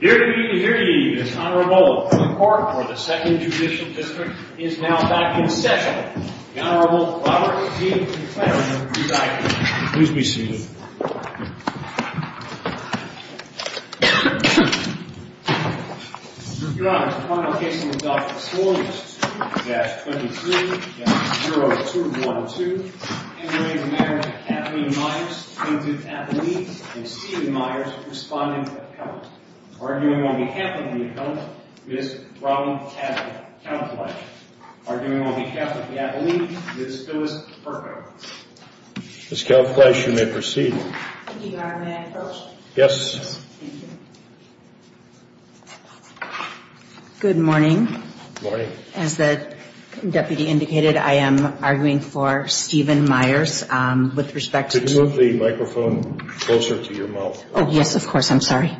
Here to meet and hear you, this Honorable Court for the Second Judicial District is now back in session. The Honorable Robert G. McClendon, Presiding Judge. Please be seated. Your Honor, the final case on the docket is 4-22-23-0212. Henry Romero v. Kathleen Myers, plaintiff at the lead, and Stephen Myers, respondent at the count. Arguing on behalf of the appellant, Ms. Robin Catlett. Arguing on behalf of the appellant, Ms. Phyllis Perko. Ms. Kelleflash, you may proceed. Thank you, Your Honor. May I approach? Yes. Thank you. Good morning. Good morning. As the deputy indicated, I am arguing for Stephen Myers with respect to... Could you move the microphone closer to your mouth? Oh, yes, of course. I'm sorry.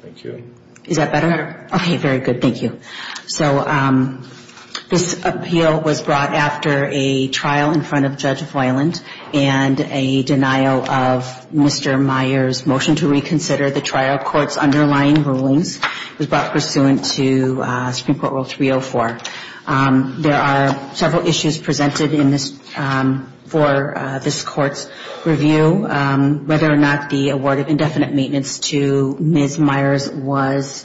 Thank you. Is that better? Okay, very good. Thank you. So, this appeal was brought after a trial in front of Judge Voiland and a denial of Mr. Myers' motion to reconsider the trial court's underlying rulings. It was brought pursuant to Supreme Court Rule 304. There are several issues presented in this, for this court's review. Whether or not the award of indefinite maintenance to Ms. Myers was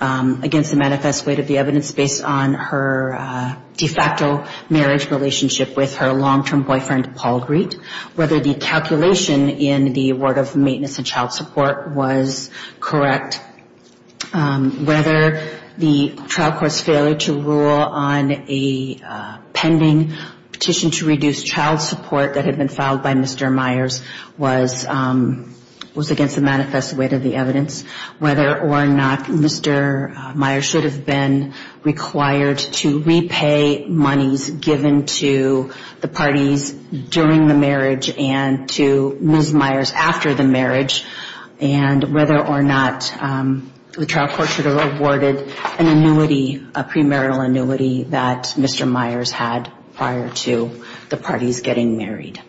against the manifest weight of the evidence based on her de facto marriage relationship with her long-term boyfriend, Paul Greete. Whether the calculation in the award of maintenance and child support was correct. Whether the trial court's failure to rule on a pending petition to reduce child support that had been filed by Mr. Myers was against the manifest weight of the evidence. Whether or not Mr. Myers should have been required to repay monies given to the parties during the marriage and to Ms. Myers after the marriage. And whether or not the trial court should have awarded an annuity, a premarital annuity, that Mr. Myers had prior to the parties getting married.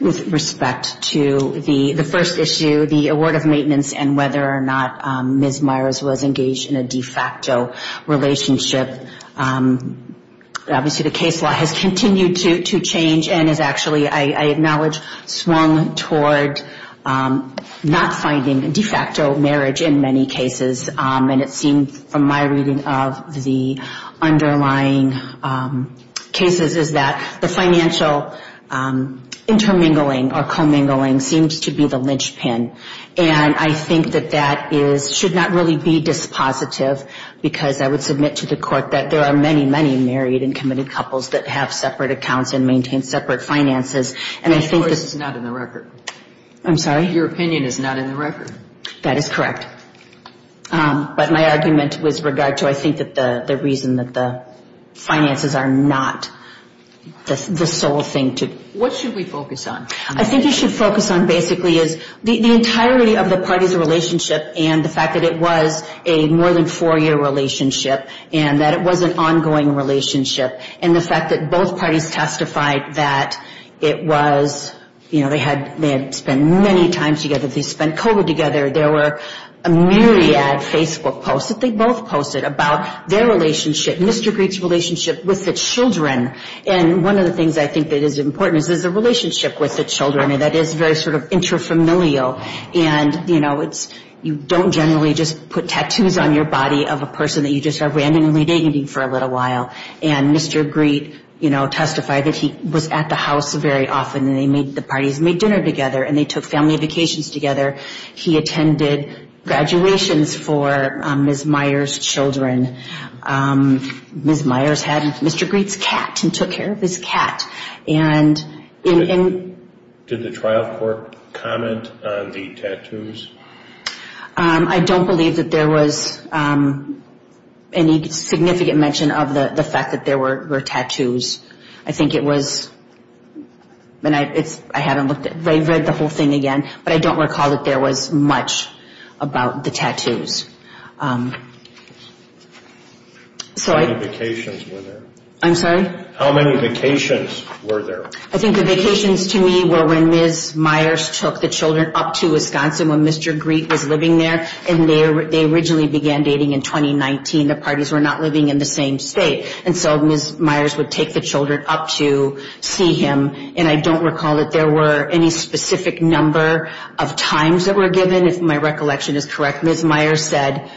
With respect to the first issue, the award of maintenance, and whether or not Ms. Myers was engaged in a de facto relationship, obviously the case law has continued to change and has actually, I acknowledge, swung toward not finding de facto marriage in many cases. And it seems from my reading of the underlying cases is that the financial intermingling or commingling seems to be the linchpin. And I think that that should not really be dispositive because I would submit to the court that there are many, many married and committed couples that have separate accounts and maintain separate finances. And I think that's not in the record. I'm sorry? Your opinion is not in the record. That is correct. But my argument with regard to I think the reason that the finances are not the sole thing to. What should we focus on? I think you should focus on basically is the entirety of the parties' relationship and the fact that it was a more than four-year relationship and that it was an ongoing relationship. And the fact that both parties testified that it was, you know, they had spent many times together. They spent COVID together. There were a myriad Facebook posts that they both posted about their relationship, Mr. Greete's relationship with the children. And one of the things I think that is important is there's a relationship with the children that is very sort of inter-familial. And, you know, you don't generally just put tattoos on your body of a person that you just are randomly dating for a little while. And Mr. Greete, you know, testified that he was at the house very often and the parties made dinner together and they took family vacations together. He attended graduations for Ms. Meyers' children. Ms. Meyers had Mr. Greete's cat and took care of his cat. Did the trial court comment on the tattoos? I don't believe that there was any significant mention of the fact that there were tattoos. I think it was, and I haven't looked at it. I read the whole thing again, but I don't recall that there was much about the tattoos. How many vacations were there? I'm sorry? How many vacations were there? I think the vacations to me were when Ms. Meyers took the children up to Wisconsin when Mr. Greete was living there. And they originally began dating in 2019. The parties were not living in the same state. And so Ms. Meyers would take the children up to see him. And I don't recall that there were any specific number of times that were given, if my recollection is correct. Ms. Meyers said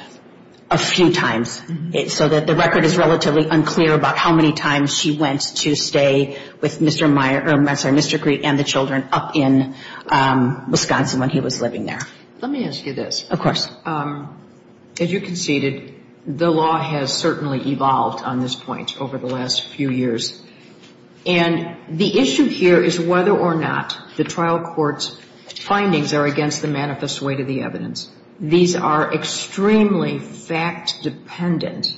a few times. So the record is relatively unclear about how many times she went to stay with Mr. Greete and the children up in Wisconsin when he was living there. Let me ask you this. Of course. As you conceded, the law has certainly evolved on this point over the last few years. And the issue here is whether or not the trial court's findings are against the manifest weight of the evidence. These are extremely fact-dependent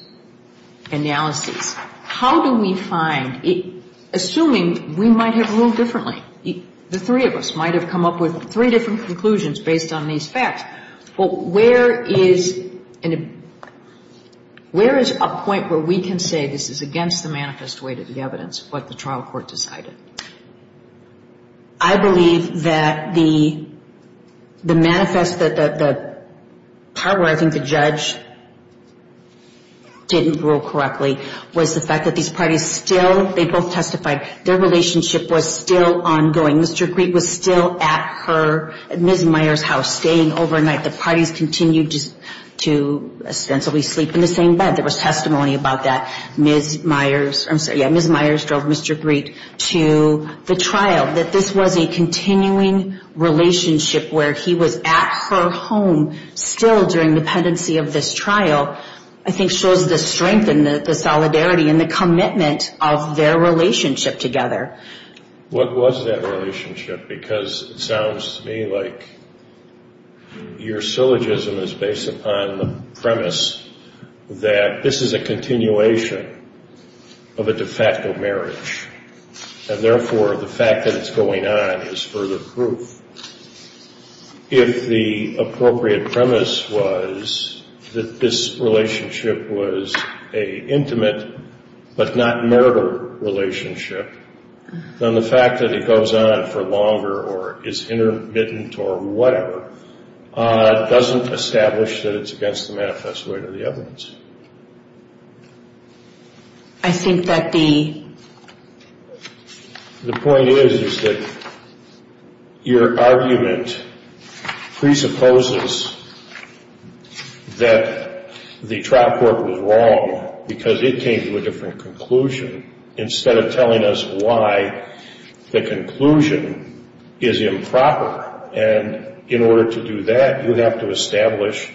analyses. How do we find, assuming we might have ruled differently, the three of us might have come up with three different conclusions based on these facts, where is a point where we can say this is against the manifest weight of the evidence, what the trial court decided? I believe that the manifest, the part where I think the judge didn't rule correctly, was the fact that these parties still, they both testified, their relationship was still ongoing. Mr. Greete was still at her, at Ms. Meyers' house, staying overnight. The parties continued to ostensibly sleep in the same bed. There was testimony about that. Ms. Meyers, I'm sorry, yeah, Ms. Meyers drove Mr. Greete to the trial. That this was a continuing relationship where he was at her home still during the pendency of this trial, I think shows the strength and the solidarity and the commitment of their relationship together. What was that relationship? Because it sounds to me like your syllogism is based upon the premise that this is a continuation of a de facto marriage, and therefore the fact that it's going on is further proof. If the appropriate premise was that this relationship was an intimate but not murder relationship, then the fact that it goes on for longer or is intermittent or whatever, doesn't establish that it's against the manifest weight of the evidence. I think that the... The point is that your argument presupposes that the trial court was wrong because it came to a different conclusion instead of telling us why the conclusion is improper. And in order to do that, you'd have to establish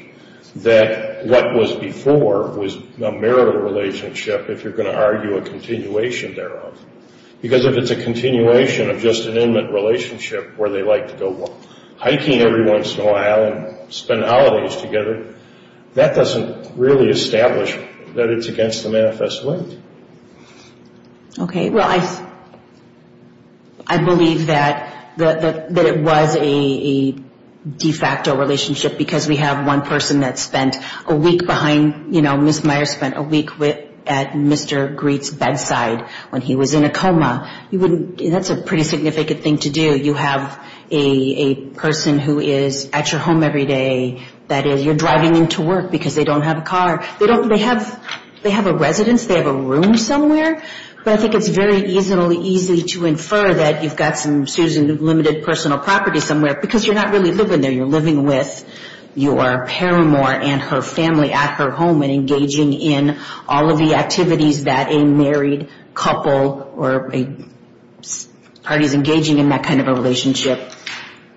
that what was before was a marital relationship if you're going to argue a continuation thereof. Because if it's a continuation of just an inmate relationship where they like to go hiking every once in a while and spend holidays together, that doesn't really establish that it's against the manifest weight. Okay. Well, I believe that it was a de facto relationship because we have one person that spent a week behind, you know, Ms. Meyer spent a week at Mr. Greets' bedside when he was in a coma. That's a pretty significant thing to do. You have a person who is at your home every day. That is, you're driving them to work because they don't have a car. They have a residence. They have a room somewhere. But I think it's very easily to infer that you've got some, excuse me, limited personal property somewhere because you're not really living there. You're living with your paramour and her family at her home and engaging in all of the activities that a married couple or parties engaging in that kind of a relationship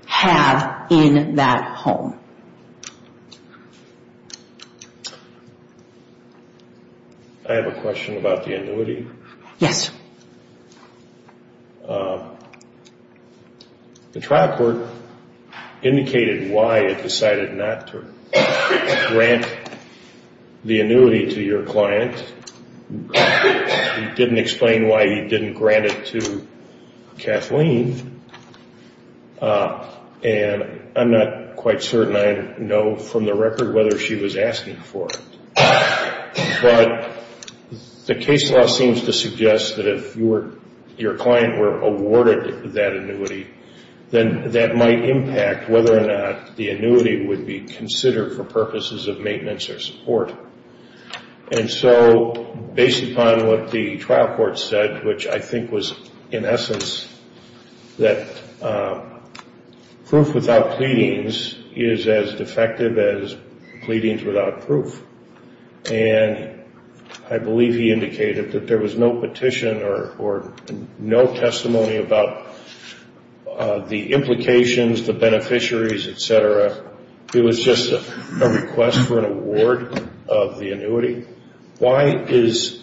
have in that home. I have a question about the annuity. Yes. The trial court indicated why it decided not to grant the annuity to your client. It didn't explain why you didn't grant it to Kathleen. And I'm not quite certain I know from the record whether she was asking for it. But the case law seems to suggest that if your client were awarded that annuity, then that might impact whether or not the annuity would be considered for purposes of maintenance or support. And so based upon what the trial court said, which I think was, in essence, that proof without pleadings is as defective as pleadings without proof. And I believe he indicated that there was no petition or no testimony about the implications, the beneficiaries, et cetera. It was just a request for an award of the annuity. Why is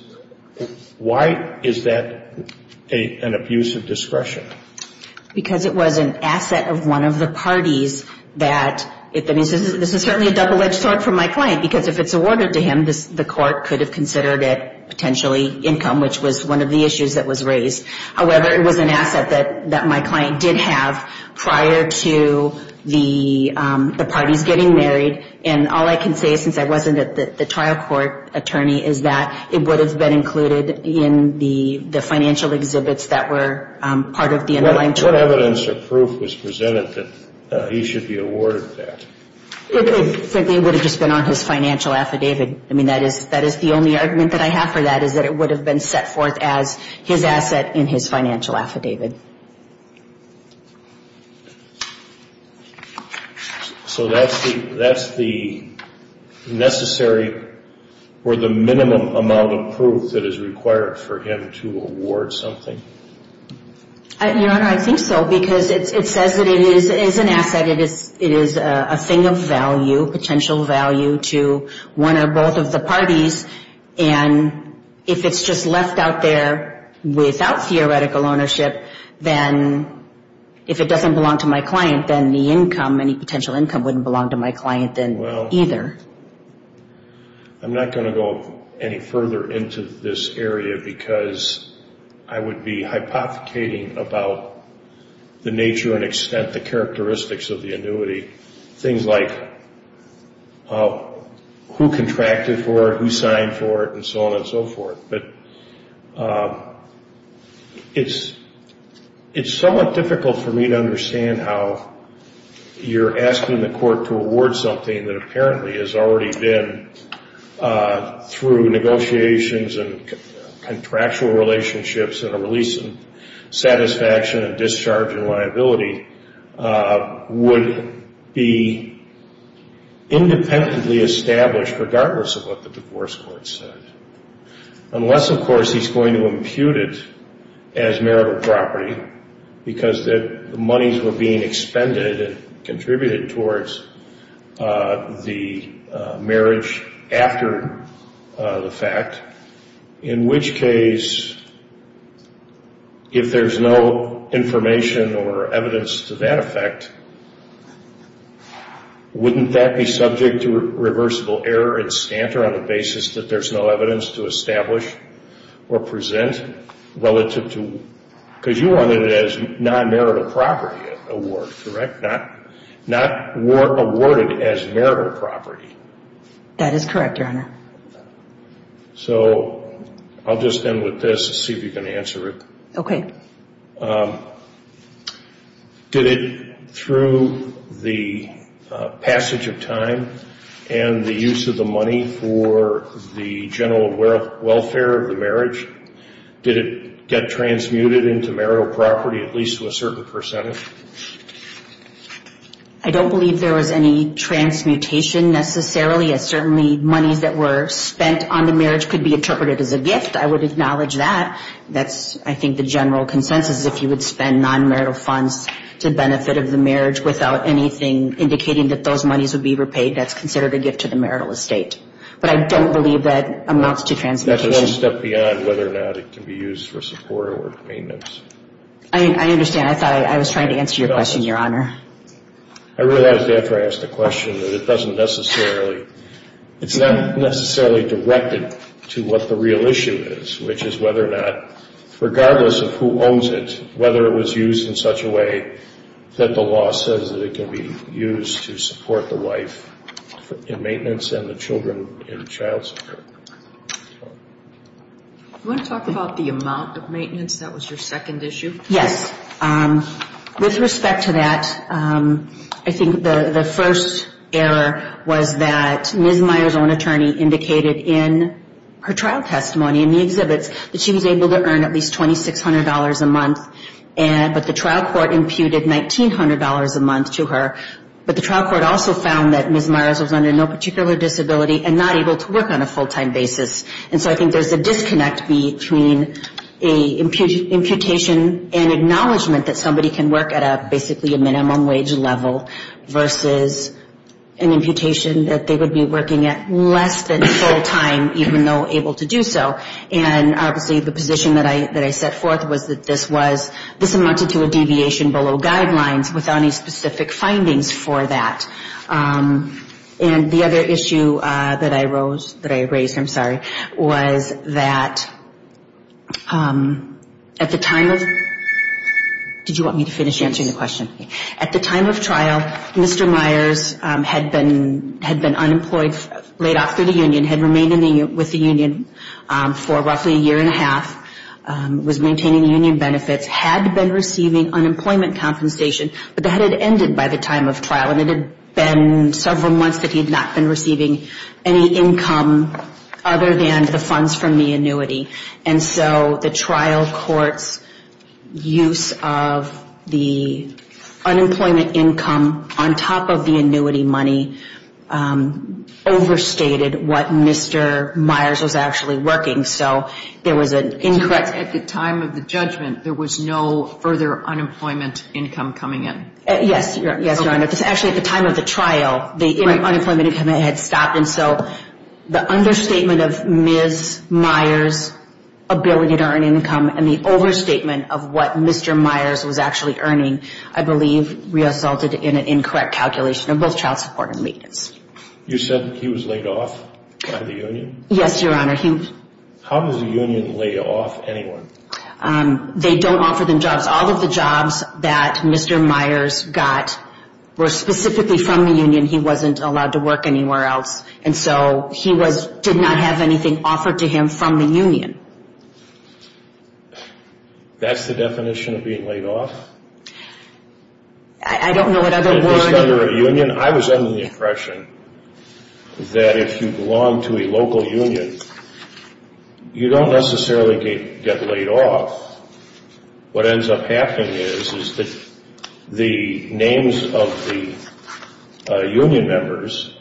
that an abuse of discretion? Because it was an asset of one of the parties. This is certainly a double-edged sword for my client, because if it's awarded to him, the court could have considered it potentially income, which was one of the issues that was raised. However, it was an asset that my client did have prior to the parties getting married. And all I can say, since I wasn't the trial court attorney, is that it would have been included in the financial exhibits that were part of the underlying trial. What evidence or proof was presented that he should be awarded that? It would have just been on his financial affidavit. I mean, that is the only argument that I have for that, is that it would have been set forth as his asset in his financial affidavit. Thank you. So that's the necessary or the minimum amount of proof that is required for him to award something? Your Honor, I think so, because it says that it is an asset. It is a thing of value, potential value to one or both of the parties. And if it's just left out there without theoretical ownership, then if it doesn't belong to my client, then the income, any potential income, wouldn't belong to my client either. I'm not going to go any further into this area, because I would be hypothecating about the nature and extent, the characteristics of the annuity. Things like who contracted for it, who signed for it, and so on and so forth. But it's somewhat difficult for me to understand how you're asking the court to award something that apparently has already been, through negotiations and contractual relationships and a release of satisfaction and discharge and liability, would be independently established regardless of what the divorce court said. Unless, of course, he's going to impute it as marital property, because the monies were being expended and contributed towards the marriage after the fact, in which case, if there's no information or evidence to that effect, wouldn't that be subject to reversible error and stanter on the basis that there's no evidence to establish or present relative to... Because you wanted it as non-marital property award, correct? Not awarded as marital property. That is correct, Your Honor. So I'll just end with this and see if you can answer it. Okay. Did it, through the passage of time and the use of the money for the general welfare of the marriage, did it get transmuted into marital property, at least to a certain percentage? I don't believe there was any transmutation necessarily. Certainly, monies that were spent on the marriage could be interpreted as a gift. I would acknowledge that. That's, I think, the general consensus. If you would spend non-marital funds to benefit of the marriage without anything indicating that those monies would be repaid, that's considered a gift to the marital estate. But I don't believe that amounts to transmutation. That's one step beyond whether or not it can be used for support or maintenance. I understand. I thought I was trying to answer your question, Your Honor. I realized after I asked the question that it doesn't necessarily, it's not necessarily directed to what the real issue is, which is whether or not, regardless of who owns it, whether it was used in such a way that the law says that it can be used to support the wife in maintenance and the children in child support. Do you want to talk about the amount of maintenance? That was your second issue. Yes. With respect to that, I think the first error was that Ms. Myers' own attorney indicated in her trial testimony in the exhibits that she was able to earn at least $2,600 a month, but the trial court imputed $1,900 a month to her. But the trial court also found that Ms. Myers was under no particular disability and not able to work on a full-time basis. And so I think there's a disconnect between an imputation and acknowledgement that somebody can work at basically a minimum wage level versus an imputation that they would be working at less than full-time, even though able to do so. And obviously the position that I set forth was that this was, this amounted to a deviation below guidelines without any specific findings for that. And the other issue that I rose, that I raised, I'm sorry, was that at the time of Did you want me to finish answering the question? At the time of trial, Mr. Myers had been unemployed, laid off through the union, had remained with the union for roughly a year and a half, was maintaining union benefits, had been receiving unemployment compensation, but that had ended by the time of trial and it had been several months that he had not been receiving any income other than the funds from the annuity. And so the trial court's use of the unemployment income on top of the annuity money overstated what Mr. Myers was actually working. So there was an incorrect At the time of the judgment, there was no further unemployment income coming in? Yes, Your Honor. Actually, at the time of the trial, the unemployment income had stopped. And so the understatement of Ms. Myers' ability to earn income and the overstatement of what Mr. Myers was actually earning, I believe, resulted in an incorrect calculation of both child support and maintenance. You said he was laid off by the union? Yes, Your Honor. How does a union lay off anyone? They don't offer them jobs. All of the jobs that Mr. Myers got were specifically from the union. He wasn't allowed to work anywhere else. And so he did not have anything offered to him from the union. That's the definition of being laid off? I don't know what other words... At least under a union? I was under the impression that if you belong to a local union, you don't necessarily get laid off. What ends up happening is that the names of the union members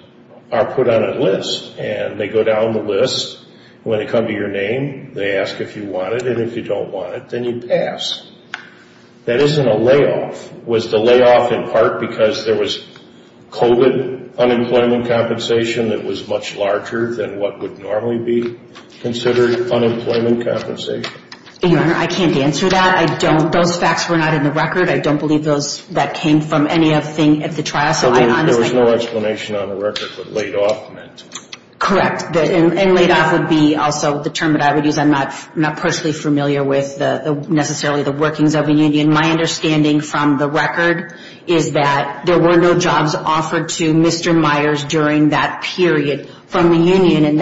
are put on a list. And they go down the list. When they come to your name, they ask if you want it. And if you don't want it, then you pass. That isn't a layoff. It was the layoff in part because there was COVID unemployment compensation that was much larger than what would normally be considered unemployment compensation. Your Honor, I can't answer that. Those facts were not in the record. I don't believe that came from anything at the trial. So there was no explanation on the record what laid off meant? Correct. And laid off would be also the term that I would use. I'm not personally familiar with necessarily the workings of a union. My understanding from the record is that there were no jobs offered to Mr. Myers during that period from the union. And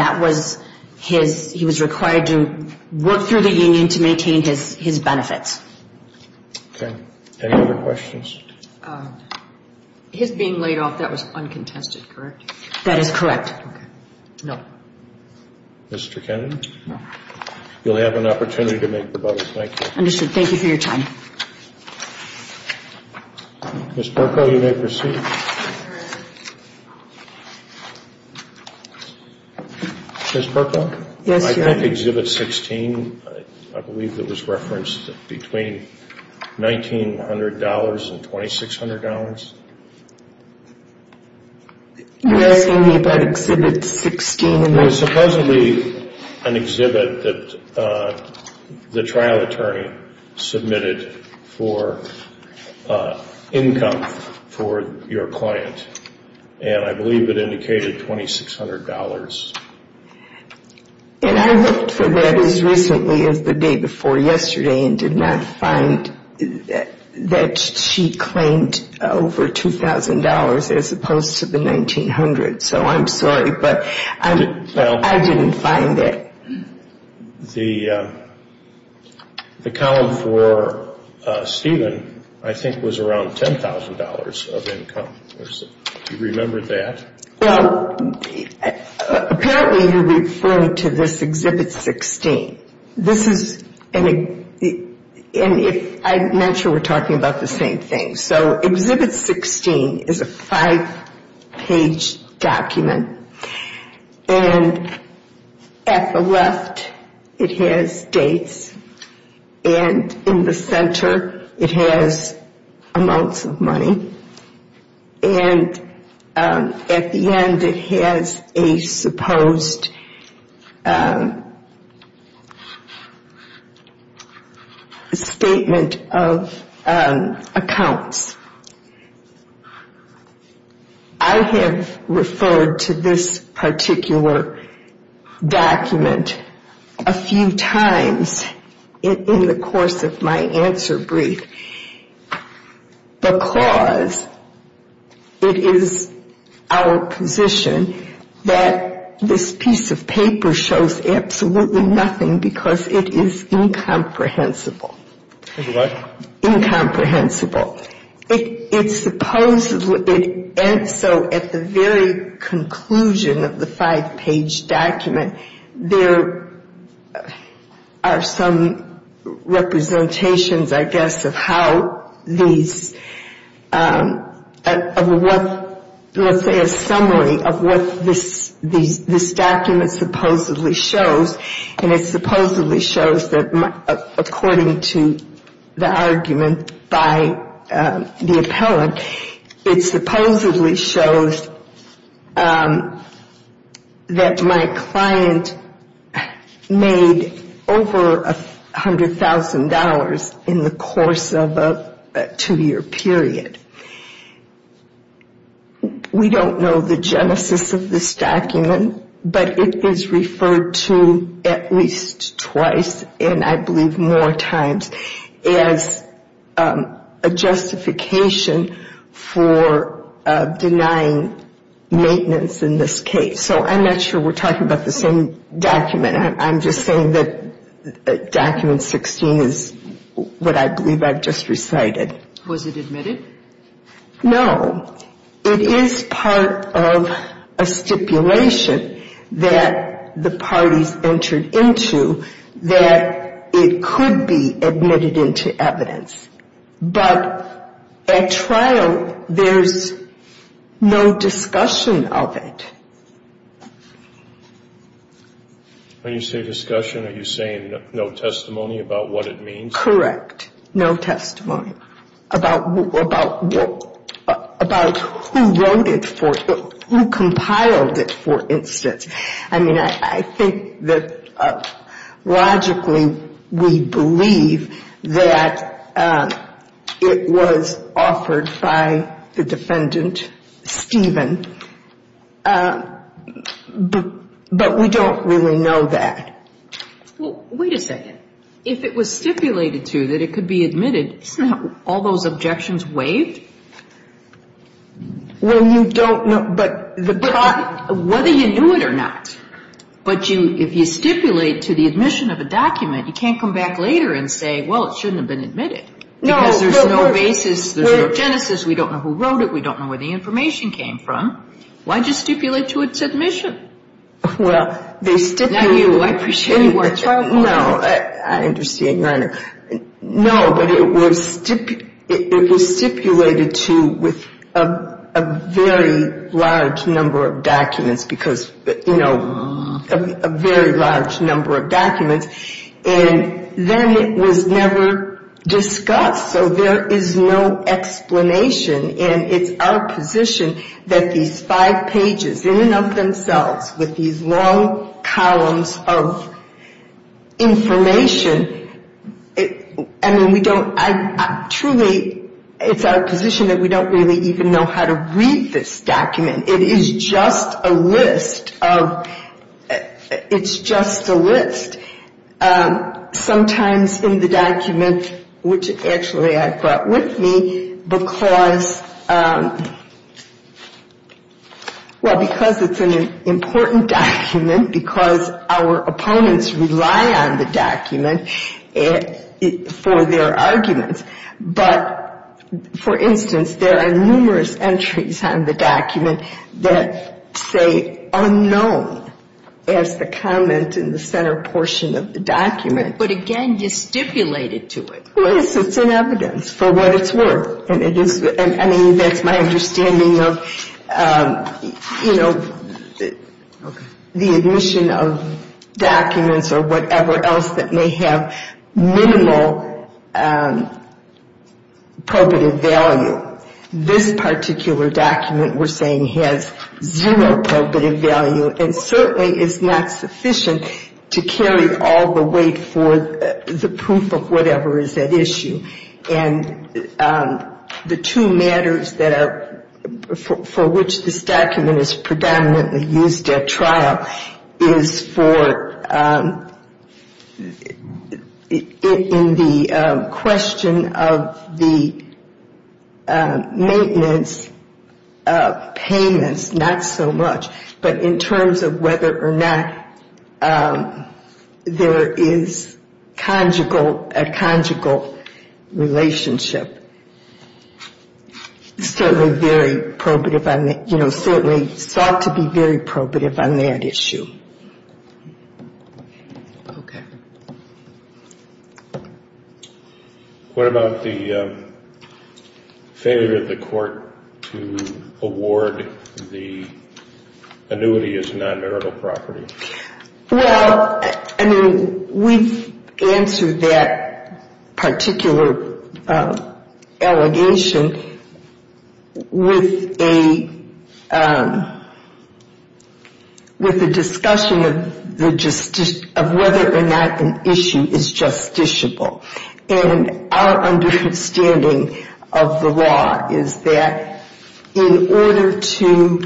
he was required to work through the union to maintain his benefits. Okay. Any other questions? His being laid off, that was uncontested, correct? That is correct. Okay. No. Mr. Kennedy? No. You'll have an opportunity to make the button. Thank you. Understood. Thank you for your time. Ms. Perko, you may proceed. Ms. Perko? Yes, Your Honor. I think Exhibit 16, I believe it was referenced between $1,900 and $2,600. You're asking me about Exhibit 16? It was supposedly an exhibit that the trial attorney submitted for income for your client. And I believe it indicated $2,600. And I looked for that as recently as the day before yesterday and did not find that she claimed over $2,000 as opposed to the $1,900. So I'm sorry, but I didn't find it. The column for Stephen, I think, was around $10,000 of income. Do you remember that? Well, apparently you're referring to this Exhibit 16. This is an exhibit. I'm not sure we're talking about the same thing. So Exhibit 16 is a five-page document. And at the left it has dates. And in the center it has amounts of money. And at the end it has a supposed statement of accounts. I have referred to this particular document a few times in the course of my answer brief because it is our position that this piece of paper shows absolutely nothing because it is incomprehensible. It's what? Incomprehensible. And so at the very conclusion of the five-page document, there are some representations, I guess, of how these, of what, let's say, a summary of what this document supposedly shows. And it supposedly shows that, according to the argument by the appellant, it supposedly shows that my client made over $100,000 in the course of a two-year period. We don't know the genesis of this document, but it is referred to at least twice, and I believe more times, as a justification for denying maintenance in this case. So I'm not sure we're talking about the same document. I'm just saying that Document 16 is what I believe I've just recited. Was it admitted? No. It is part of a stipulation that the parties entered into that it could be admitted into evidence. But at trial, there's no discussion of it. When you say discussion, are you saying no testimony about what it means? Correct. No testimony. About who wrote it for, who compiled it, for instance. I mean, I think that logically we believe that it was offered by the defendant, Stephen. But we don't really know that. Well, wait a second. If it was stipulated to that it could be admitted, isn't that all those objections waived? Well, you don't know. Whether you knew it or not. But if you stipulate to the admission of a document, you can't come back later and say, well, it shouldn't have been admitted. Because there's no basis, there's no genesis, we don't know who wrote it, we don't know where the information came from. Why just stipulate to its admission? Well, they stipulated. Now you. I appreciate you watching. No, I understand your honor. No, but it was stipulated to with a very large number of documents because, you know, a very large number of documents. And then it was never discussed. So there is no explanation. And it's our position that these five pages, in and of themselves, with these long columns of information, I mean, we don't, I truly, it's our position that we don't really even know how to read this document. It is just a list of, it's just a list. Sometimes in the document, which actually I brought with me because, well, because it's an important document, because our opponents rely on the document for their arguments. But, for instance, there are numerous entries on the document that say unknown as the comment in the center portion of the document. But, again, you stipulated to it. Yes, it's an evidence for what it's worth. And it is, I mean, that's my understanding of, you know, the admission of documents or whatever else that may have minimal probative value. This particular document, we're saying, has zero probative value. And certainly it's not sufficient to carry all the weight for the proof of whatever is at issue. And the two matters that are, for which this document is predominantly used at trial, is for, in the question of the maintenance of payments, not so much, but in terms of whether or not there is conjugal, a conjugal relationship. Certainly very probative on that, you know, certainly sought to be very probative on that issue. Okay. What about the failure of the court to award the annuity as non-marital property? Well, I mean, we've answered that particular allegation with a discussion of whether or not an issue is justiciable. And our understanding of the law is that in order to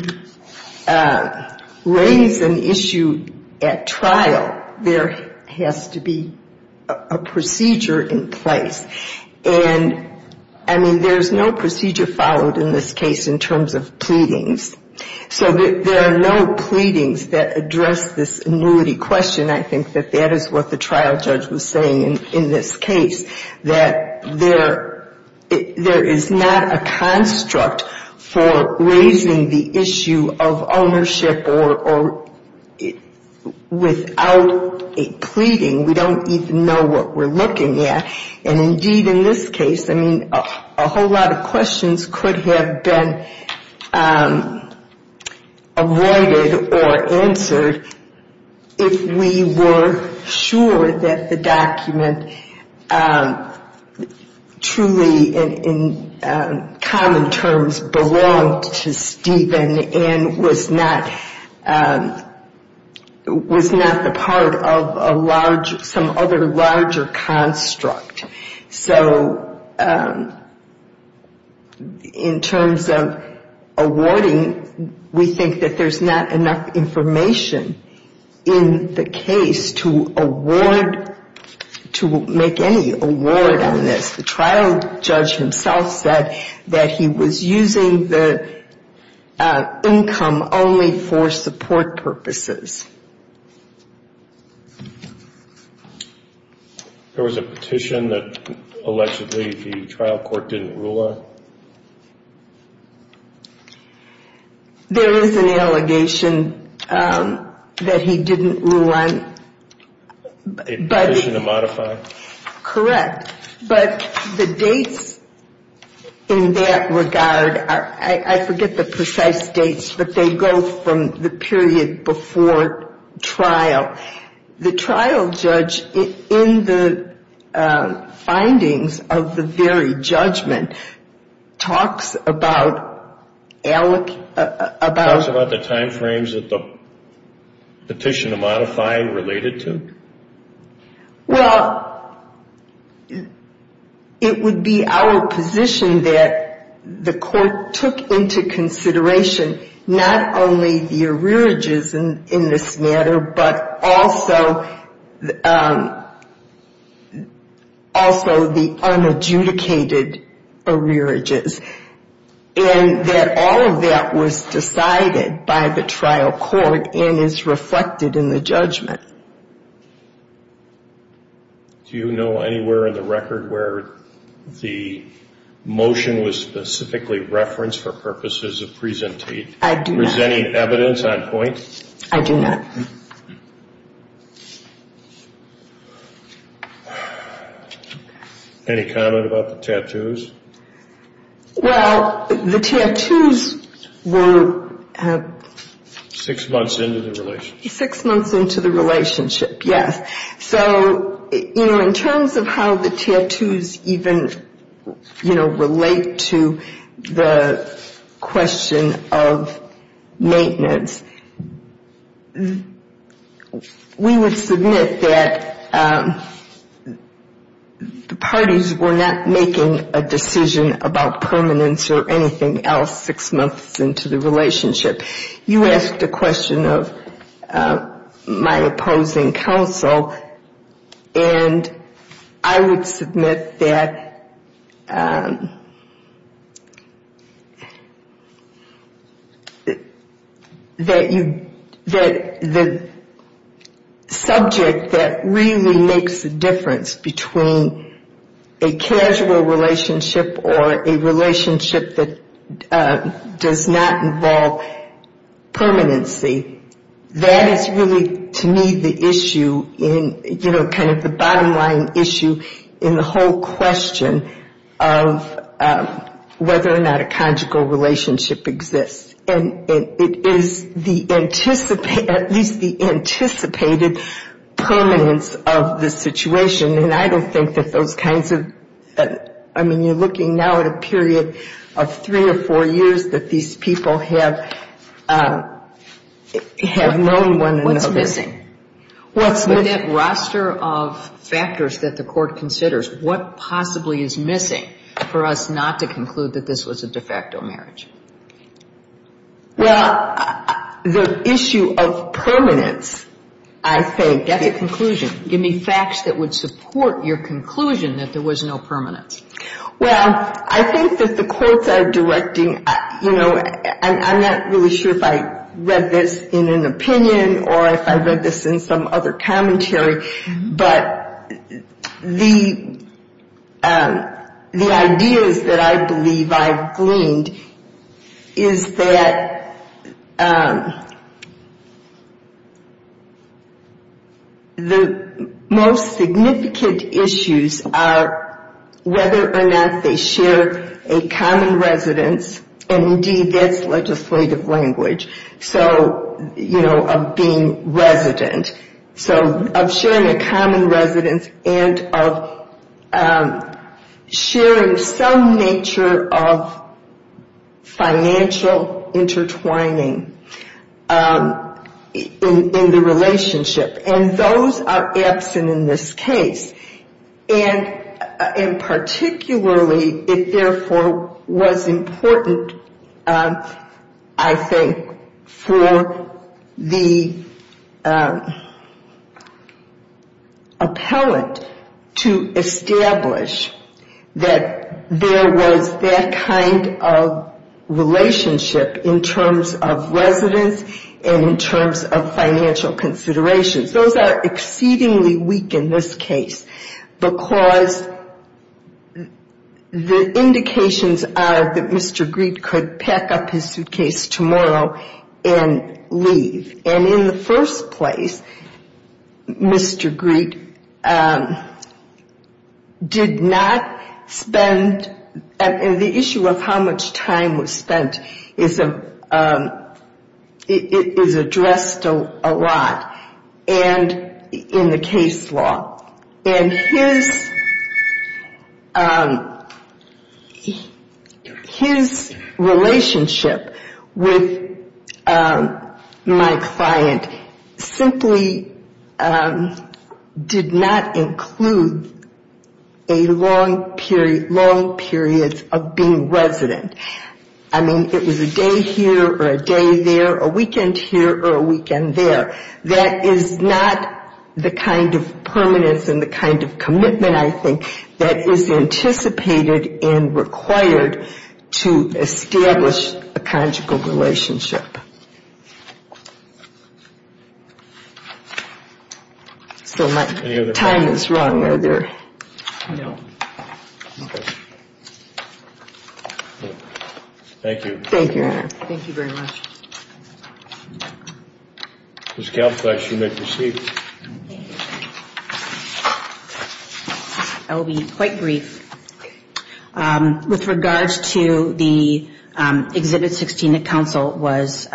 raise an issue at trial, there has to be a procedure in place. And, I mean, there's no procedure followed in this case in terms of pleadings. So there are no pleadings that address this annuity question. I think that that is what the trial judge was saying in this case, that there is not a construct for raising the issue of ownership without a pleading. We don't even know what we're looking at. And, indeed, in this case, I mean, a whole lot of questions could have been avoided or answered if we were sure that the document truly, in common terms, belonged to Stephen and was not the part of some other larger construct. So in terms of awarding, we think that there's not enough information in the case to award, to make any award on this. The trial judge himself said that he was using the income only for support purposes. There was a petition that allegedly the trial court didn't rule on. There is an allegation that he didn't rule on. A petition to modify? Correct. But the dates in that regard are, I forget the precise dates, but they go from the period before trial. The trial judge, in the findings of the very judgment, talks about the time frames that the petition to modify related to? Well, it would be our position that the court took into consideration not only the arrearages in this matter, but also the unadjudicated arrearages. And that all of that was decided by the trial court and is reflected in the judgment. Do you know anywhere in the record where the motion was specifically referenced for purposes of presenting evidence on point? I do not. Any comment about the tattoos? Well, the tattoos were six months into the relationship. Six months into the relationship, yes. So, you know, in terms of how the tattoos even, you know, relate to the question of maintenance, we would submit that the parties were not making a decision about permanence or anything else six months into the relationship. You asked a question of my opposing counsel, and I would submit that the subject that really makes a difference between a casual relationship or a relationship that does not involve permanency, that is really, to me, the issue in, you know, kind of the bottom line issue in the whole question of whether or not a conjugal relationship exists. And it is the anticipated, at least the anticipated permanence of the situation. And I don't think that those kinds of, I mean, you're looking now at a period of three or four years that these people have known one another. What's missing? With that roster of factors that the court considers, what possibly is missing for us not to conclude that this was a de facto marriage? Well, the issue of permanence, I think. That's a conclusion. Give me facts that would support your conclusion that there was no permanence. Well, I think that the courts are directing, you know, I'm not really sure if I read this in an opinion or if I read this in some other commentary, but the ideas that I believe I've gleaned is that the most significant issues are whether or not there was a common residence, and indeed that's legislative language, so, you know, of being resident. So of sharing a common residence and of sharing some nature of financial intertwining in the relationship. And those are absent in this case. And particularly it therefore was important, I think, for the appellant to establish that there was that kind of relationship in terms of residence and in terms of financial considerations. Those are exceedingly weak in this case. Because the indications are that Mr. Greete could pack up his suitcase tomorrow and leave. And in the first place, Mr. Greete did not spend, and the issue of how much time was spent is addressed a lot in the case law. And his relationship with my client simply did not include a long period, long periods of being resident. I mean, it was a day here or a day there, a weekend here or a weekend there. That is not the kind of permanence and the kind of commitment I think that is anticipated and required to establish a conjugal relationship. So my time is wrong, are there? No. Thank you. Thank you very much. I will be quite brief. With regards to the Exhibit 16 that counsel was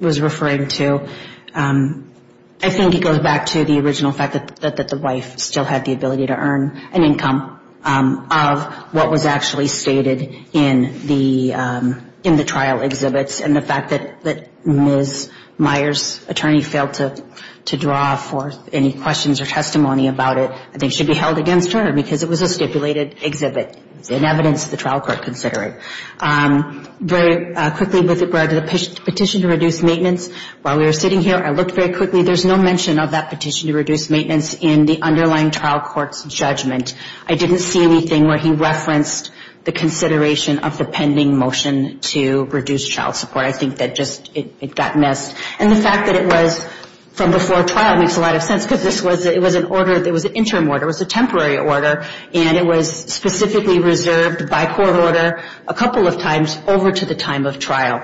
referring to, I think it goes back to the original fact that the wife still had the ability to earn an income of what was actually stated in the trial exhibits. And the fact that Ms. Meyer's attorney failed to draw forth any questions or testimony about it, I think should be held against her because it was a stipulated exhibit, an evidence the trial court considered. Very quickly, with regard to the petition to reduce maintenance, while we were sitting here, I looked very quickly. There's no mention of that petition to reduce maintenance in the underlying trial court's judgment. I didn't see anything where he referenced the consideration of the pending motion to reduce child support. I think that just, it got missed. And the fact that it was from before trial makes a lot of sense, because this was an order, it was an interim order, it was a temporary order, and it was specifically reserved by court order a couple of times over to the time of trial.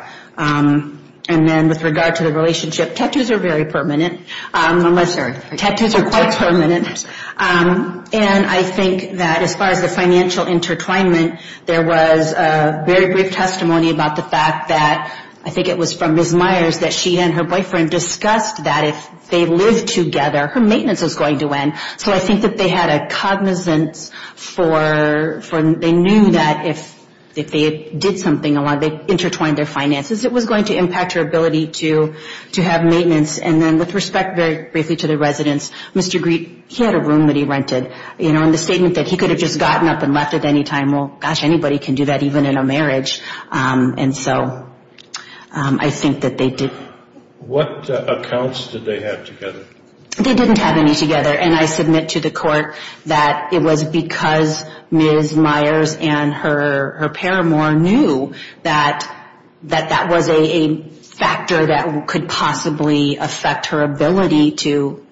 And then with regard to the relationship, tattoos are very permanent. Tattoos are quite permanent. And I think that as far as the financial intertwinement, there was very brief testimony about the fact that, I think it was from Ms. Meyer's that she and her boyfriend discussed that if they lived together, her maintenance was going to end. So I think that they had a cognizance for, they knew that if they did something, they intertwined their finances. It was going to impact her ability to have maintenance. And then with respect very briefly to the residence, Mr. Greete, he had a room that he rented. And the statement that he could have just gotten up and left at any time, well, gosh, anybody can do that, even in a marriage. And so I think that they did. What accounts did they have together? They didn't have any together. And I submit to the court that it was because Ms. Meyer's and her paramour knew that that was a factor that could possibly affect her ability to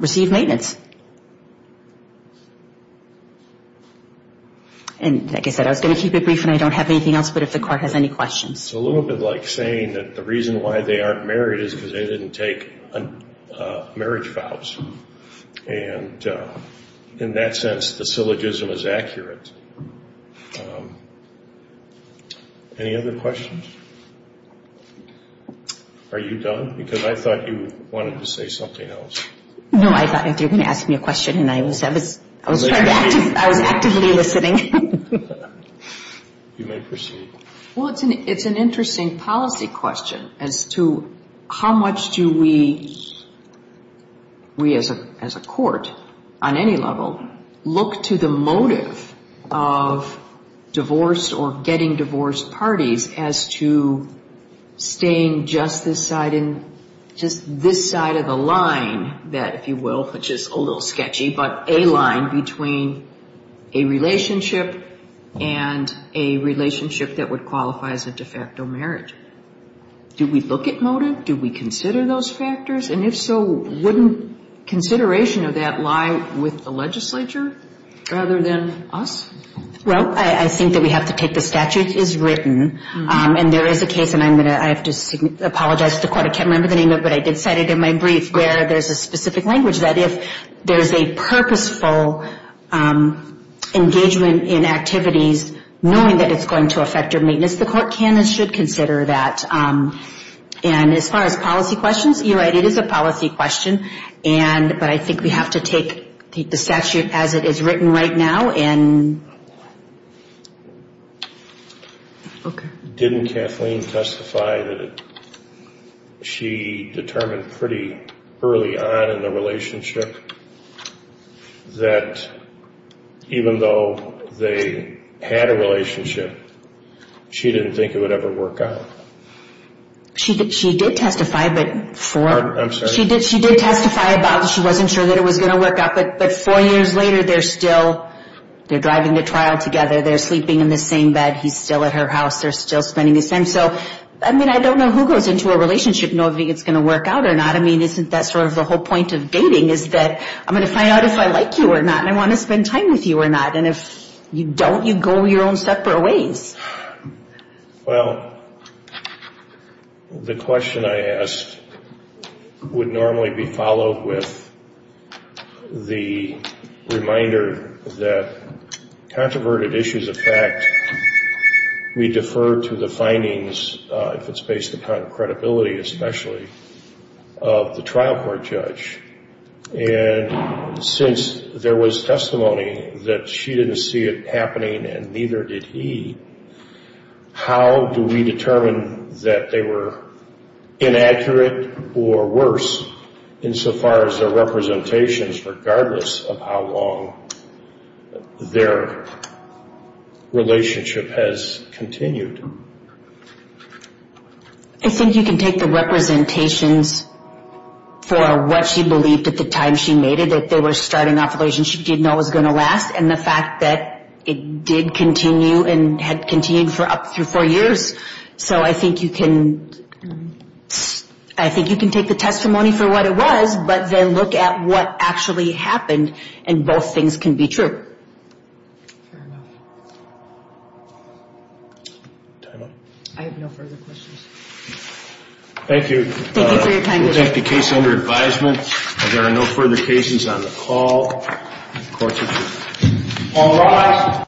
receive maintenance. And like I said, I was going to keep it brief and I don't have anything else, but if the court has any questions. It's a little bit like saying that the reason why they aren't married is because they didn't take marriage vows. And in that sense, the syllogism is accurate. Any other questions? Are you done? Because I thought you wanted to say something else. No, I thought you were going to ask me a question and I was actively listening. You may proceed. Well, it's an interesting policy question as to how much do we as a court on any level look to the motive of divorced or getting divorced parties as to staying just this side of the line. That, if you will, which is a little sketchy, but a line between a relationship and a relationship that would qualify as a de facto marriage. Do we look at motive? Do we consider those factors? And if so, wouldn't consideration of that lie with the legislature rather than us? Well, I think that we have to take the statute as written and there is a case and I'm going to have to apologize to the court. I can't remember the name of it, but I did cite it in my brief where there's a specific language that if there's a purposeful engagement in activities knowing that it's going to affect your maintenance, the court can and should consider that. And as far as policy questions, you're right, it is a policy question. But I think we have to take the statute as it is written right now. Okay. Didn't Kathleen testify that she determined pretty early on in the relationship that even though they had a relationship, she didn't think it would ever work out? She did testify, but she did testify about she wasn't sure that it was going to work out. But four years later, they're still, they're driving to trial together. They're sleeping in the same bed. He's still at her house. They're still spending his time. So, I mean, I don't know who goes into a relationship knowing if it's going to work out or not. I mean, isn't that sort of the whole point of dating is that I'm going to find out if I like you or not and I want to spend time with you or not. And if you don't, you go your own separate ways. Well, the question I asked would normally be followed with the reminder that controverted issues of fact, we defer to the findings, if it's based upon credibility especially, of the trial court judge. And since there was testimony that she didn't see it happening and neither did he, how do we determine that they were inaccurate or worse insofar as their representations, regardless of how long their relationship has continued? I think you can take the representations for what she believed at the time she made it, that they were starting off a relationship she didn't know was going to last. And the fact that it did continue and had continued for up through four years. So I think you can take the testimony for what it was, but then look at what actually happened and both things can be true. Fair enough. I have no further questions. Thank you.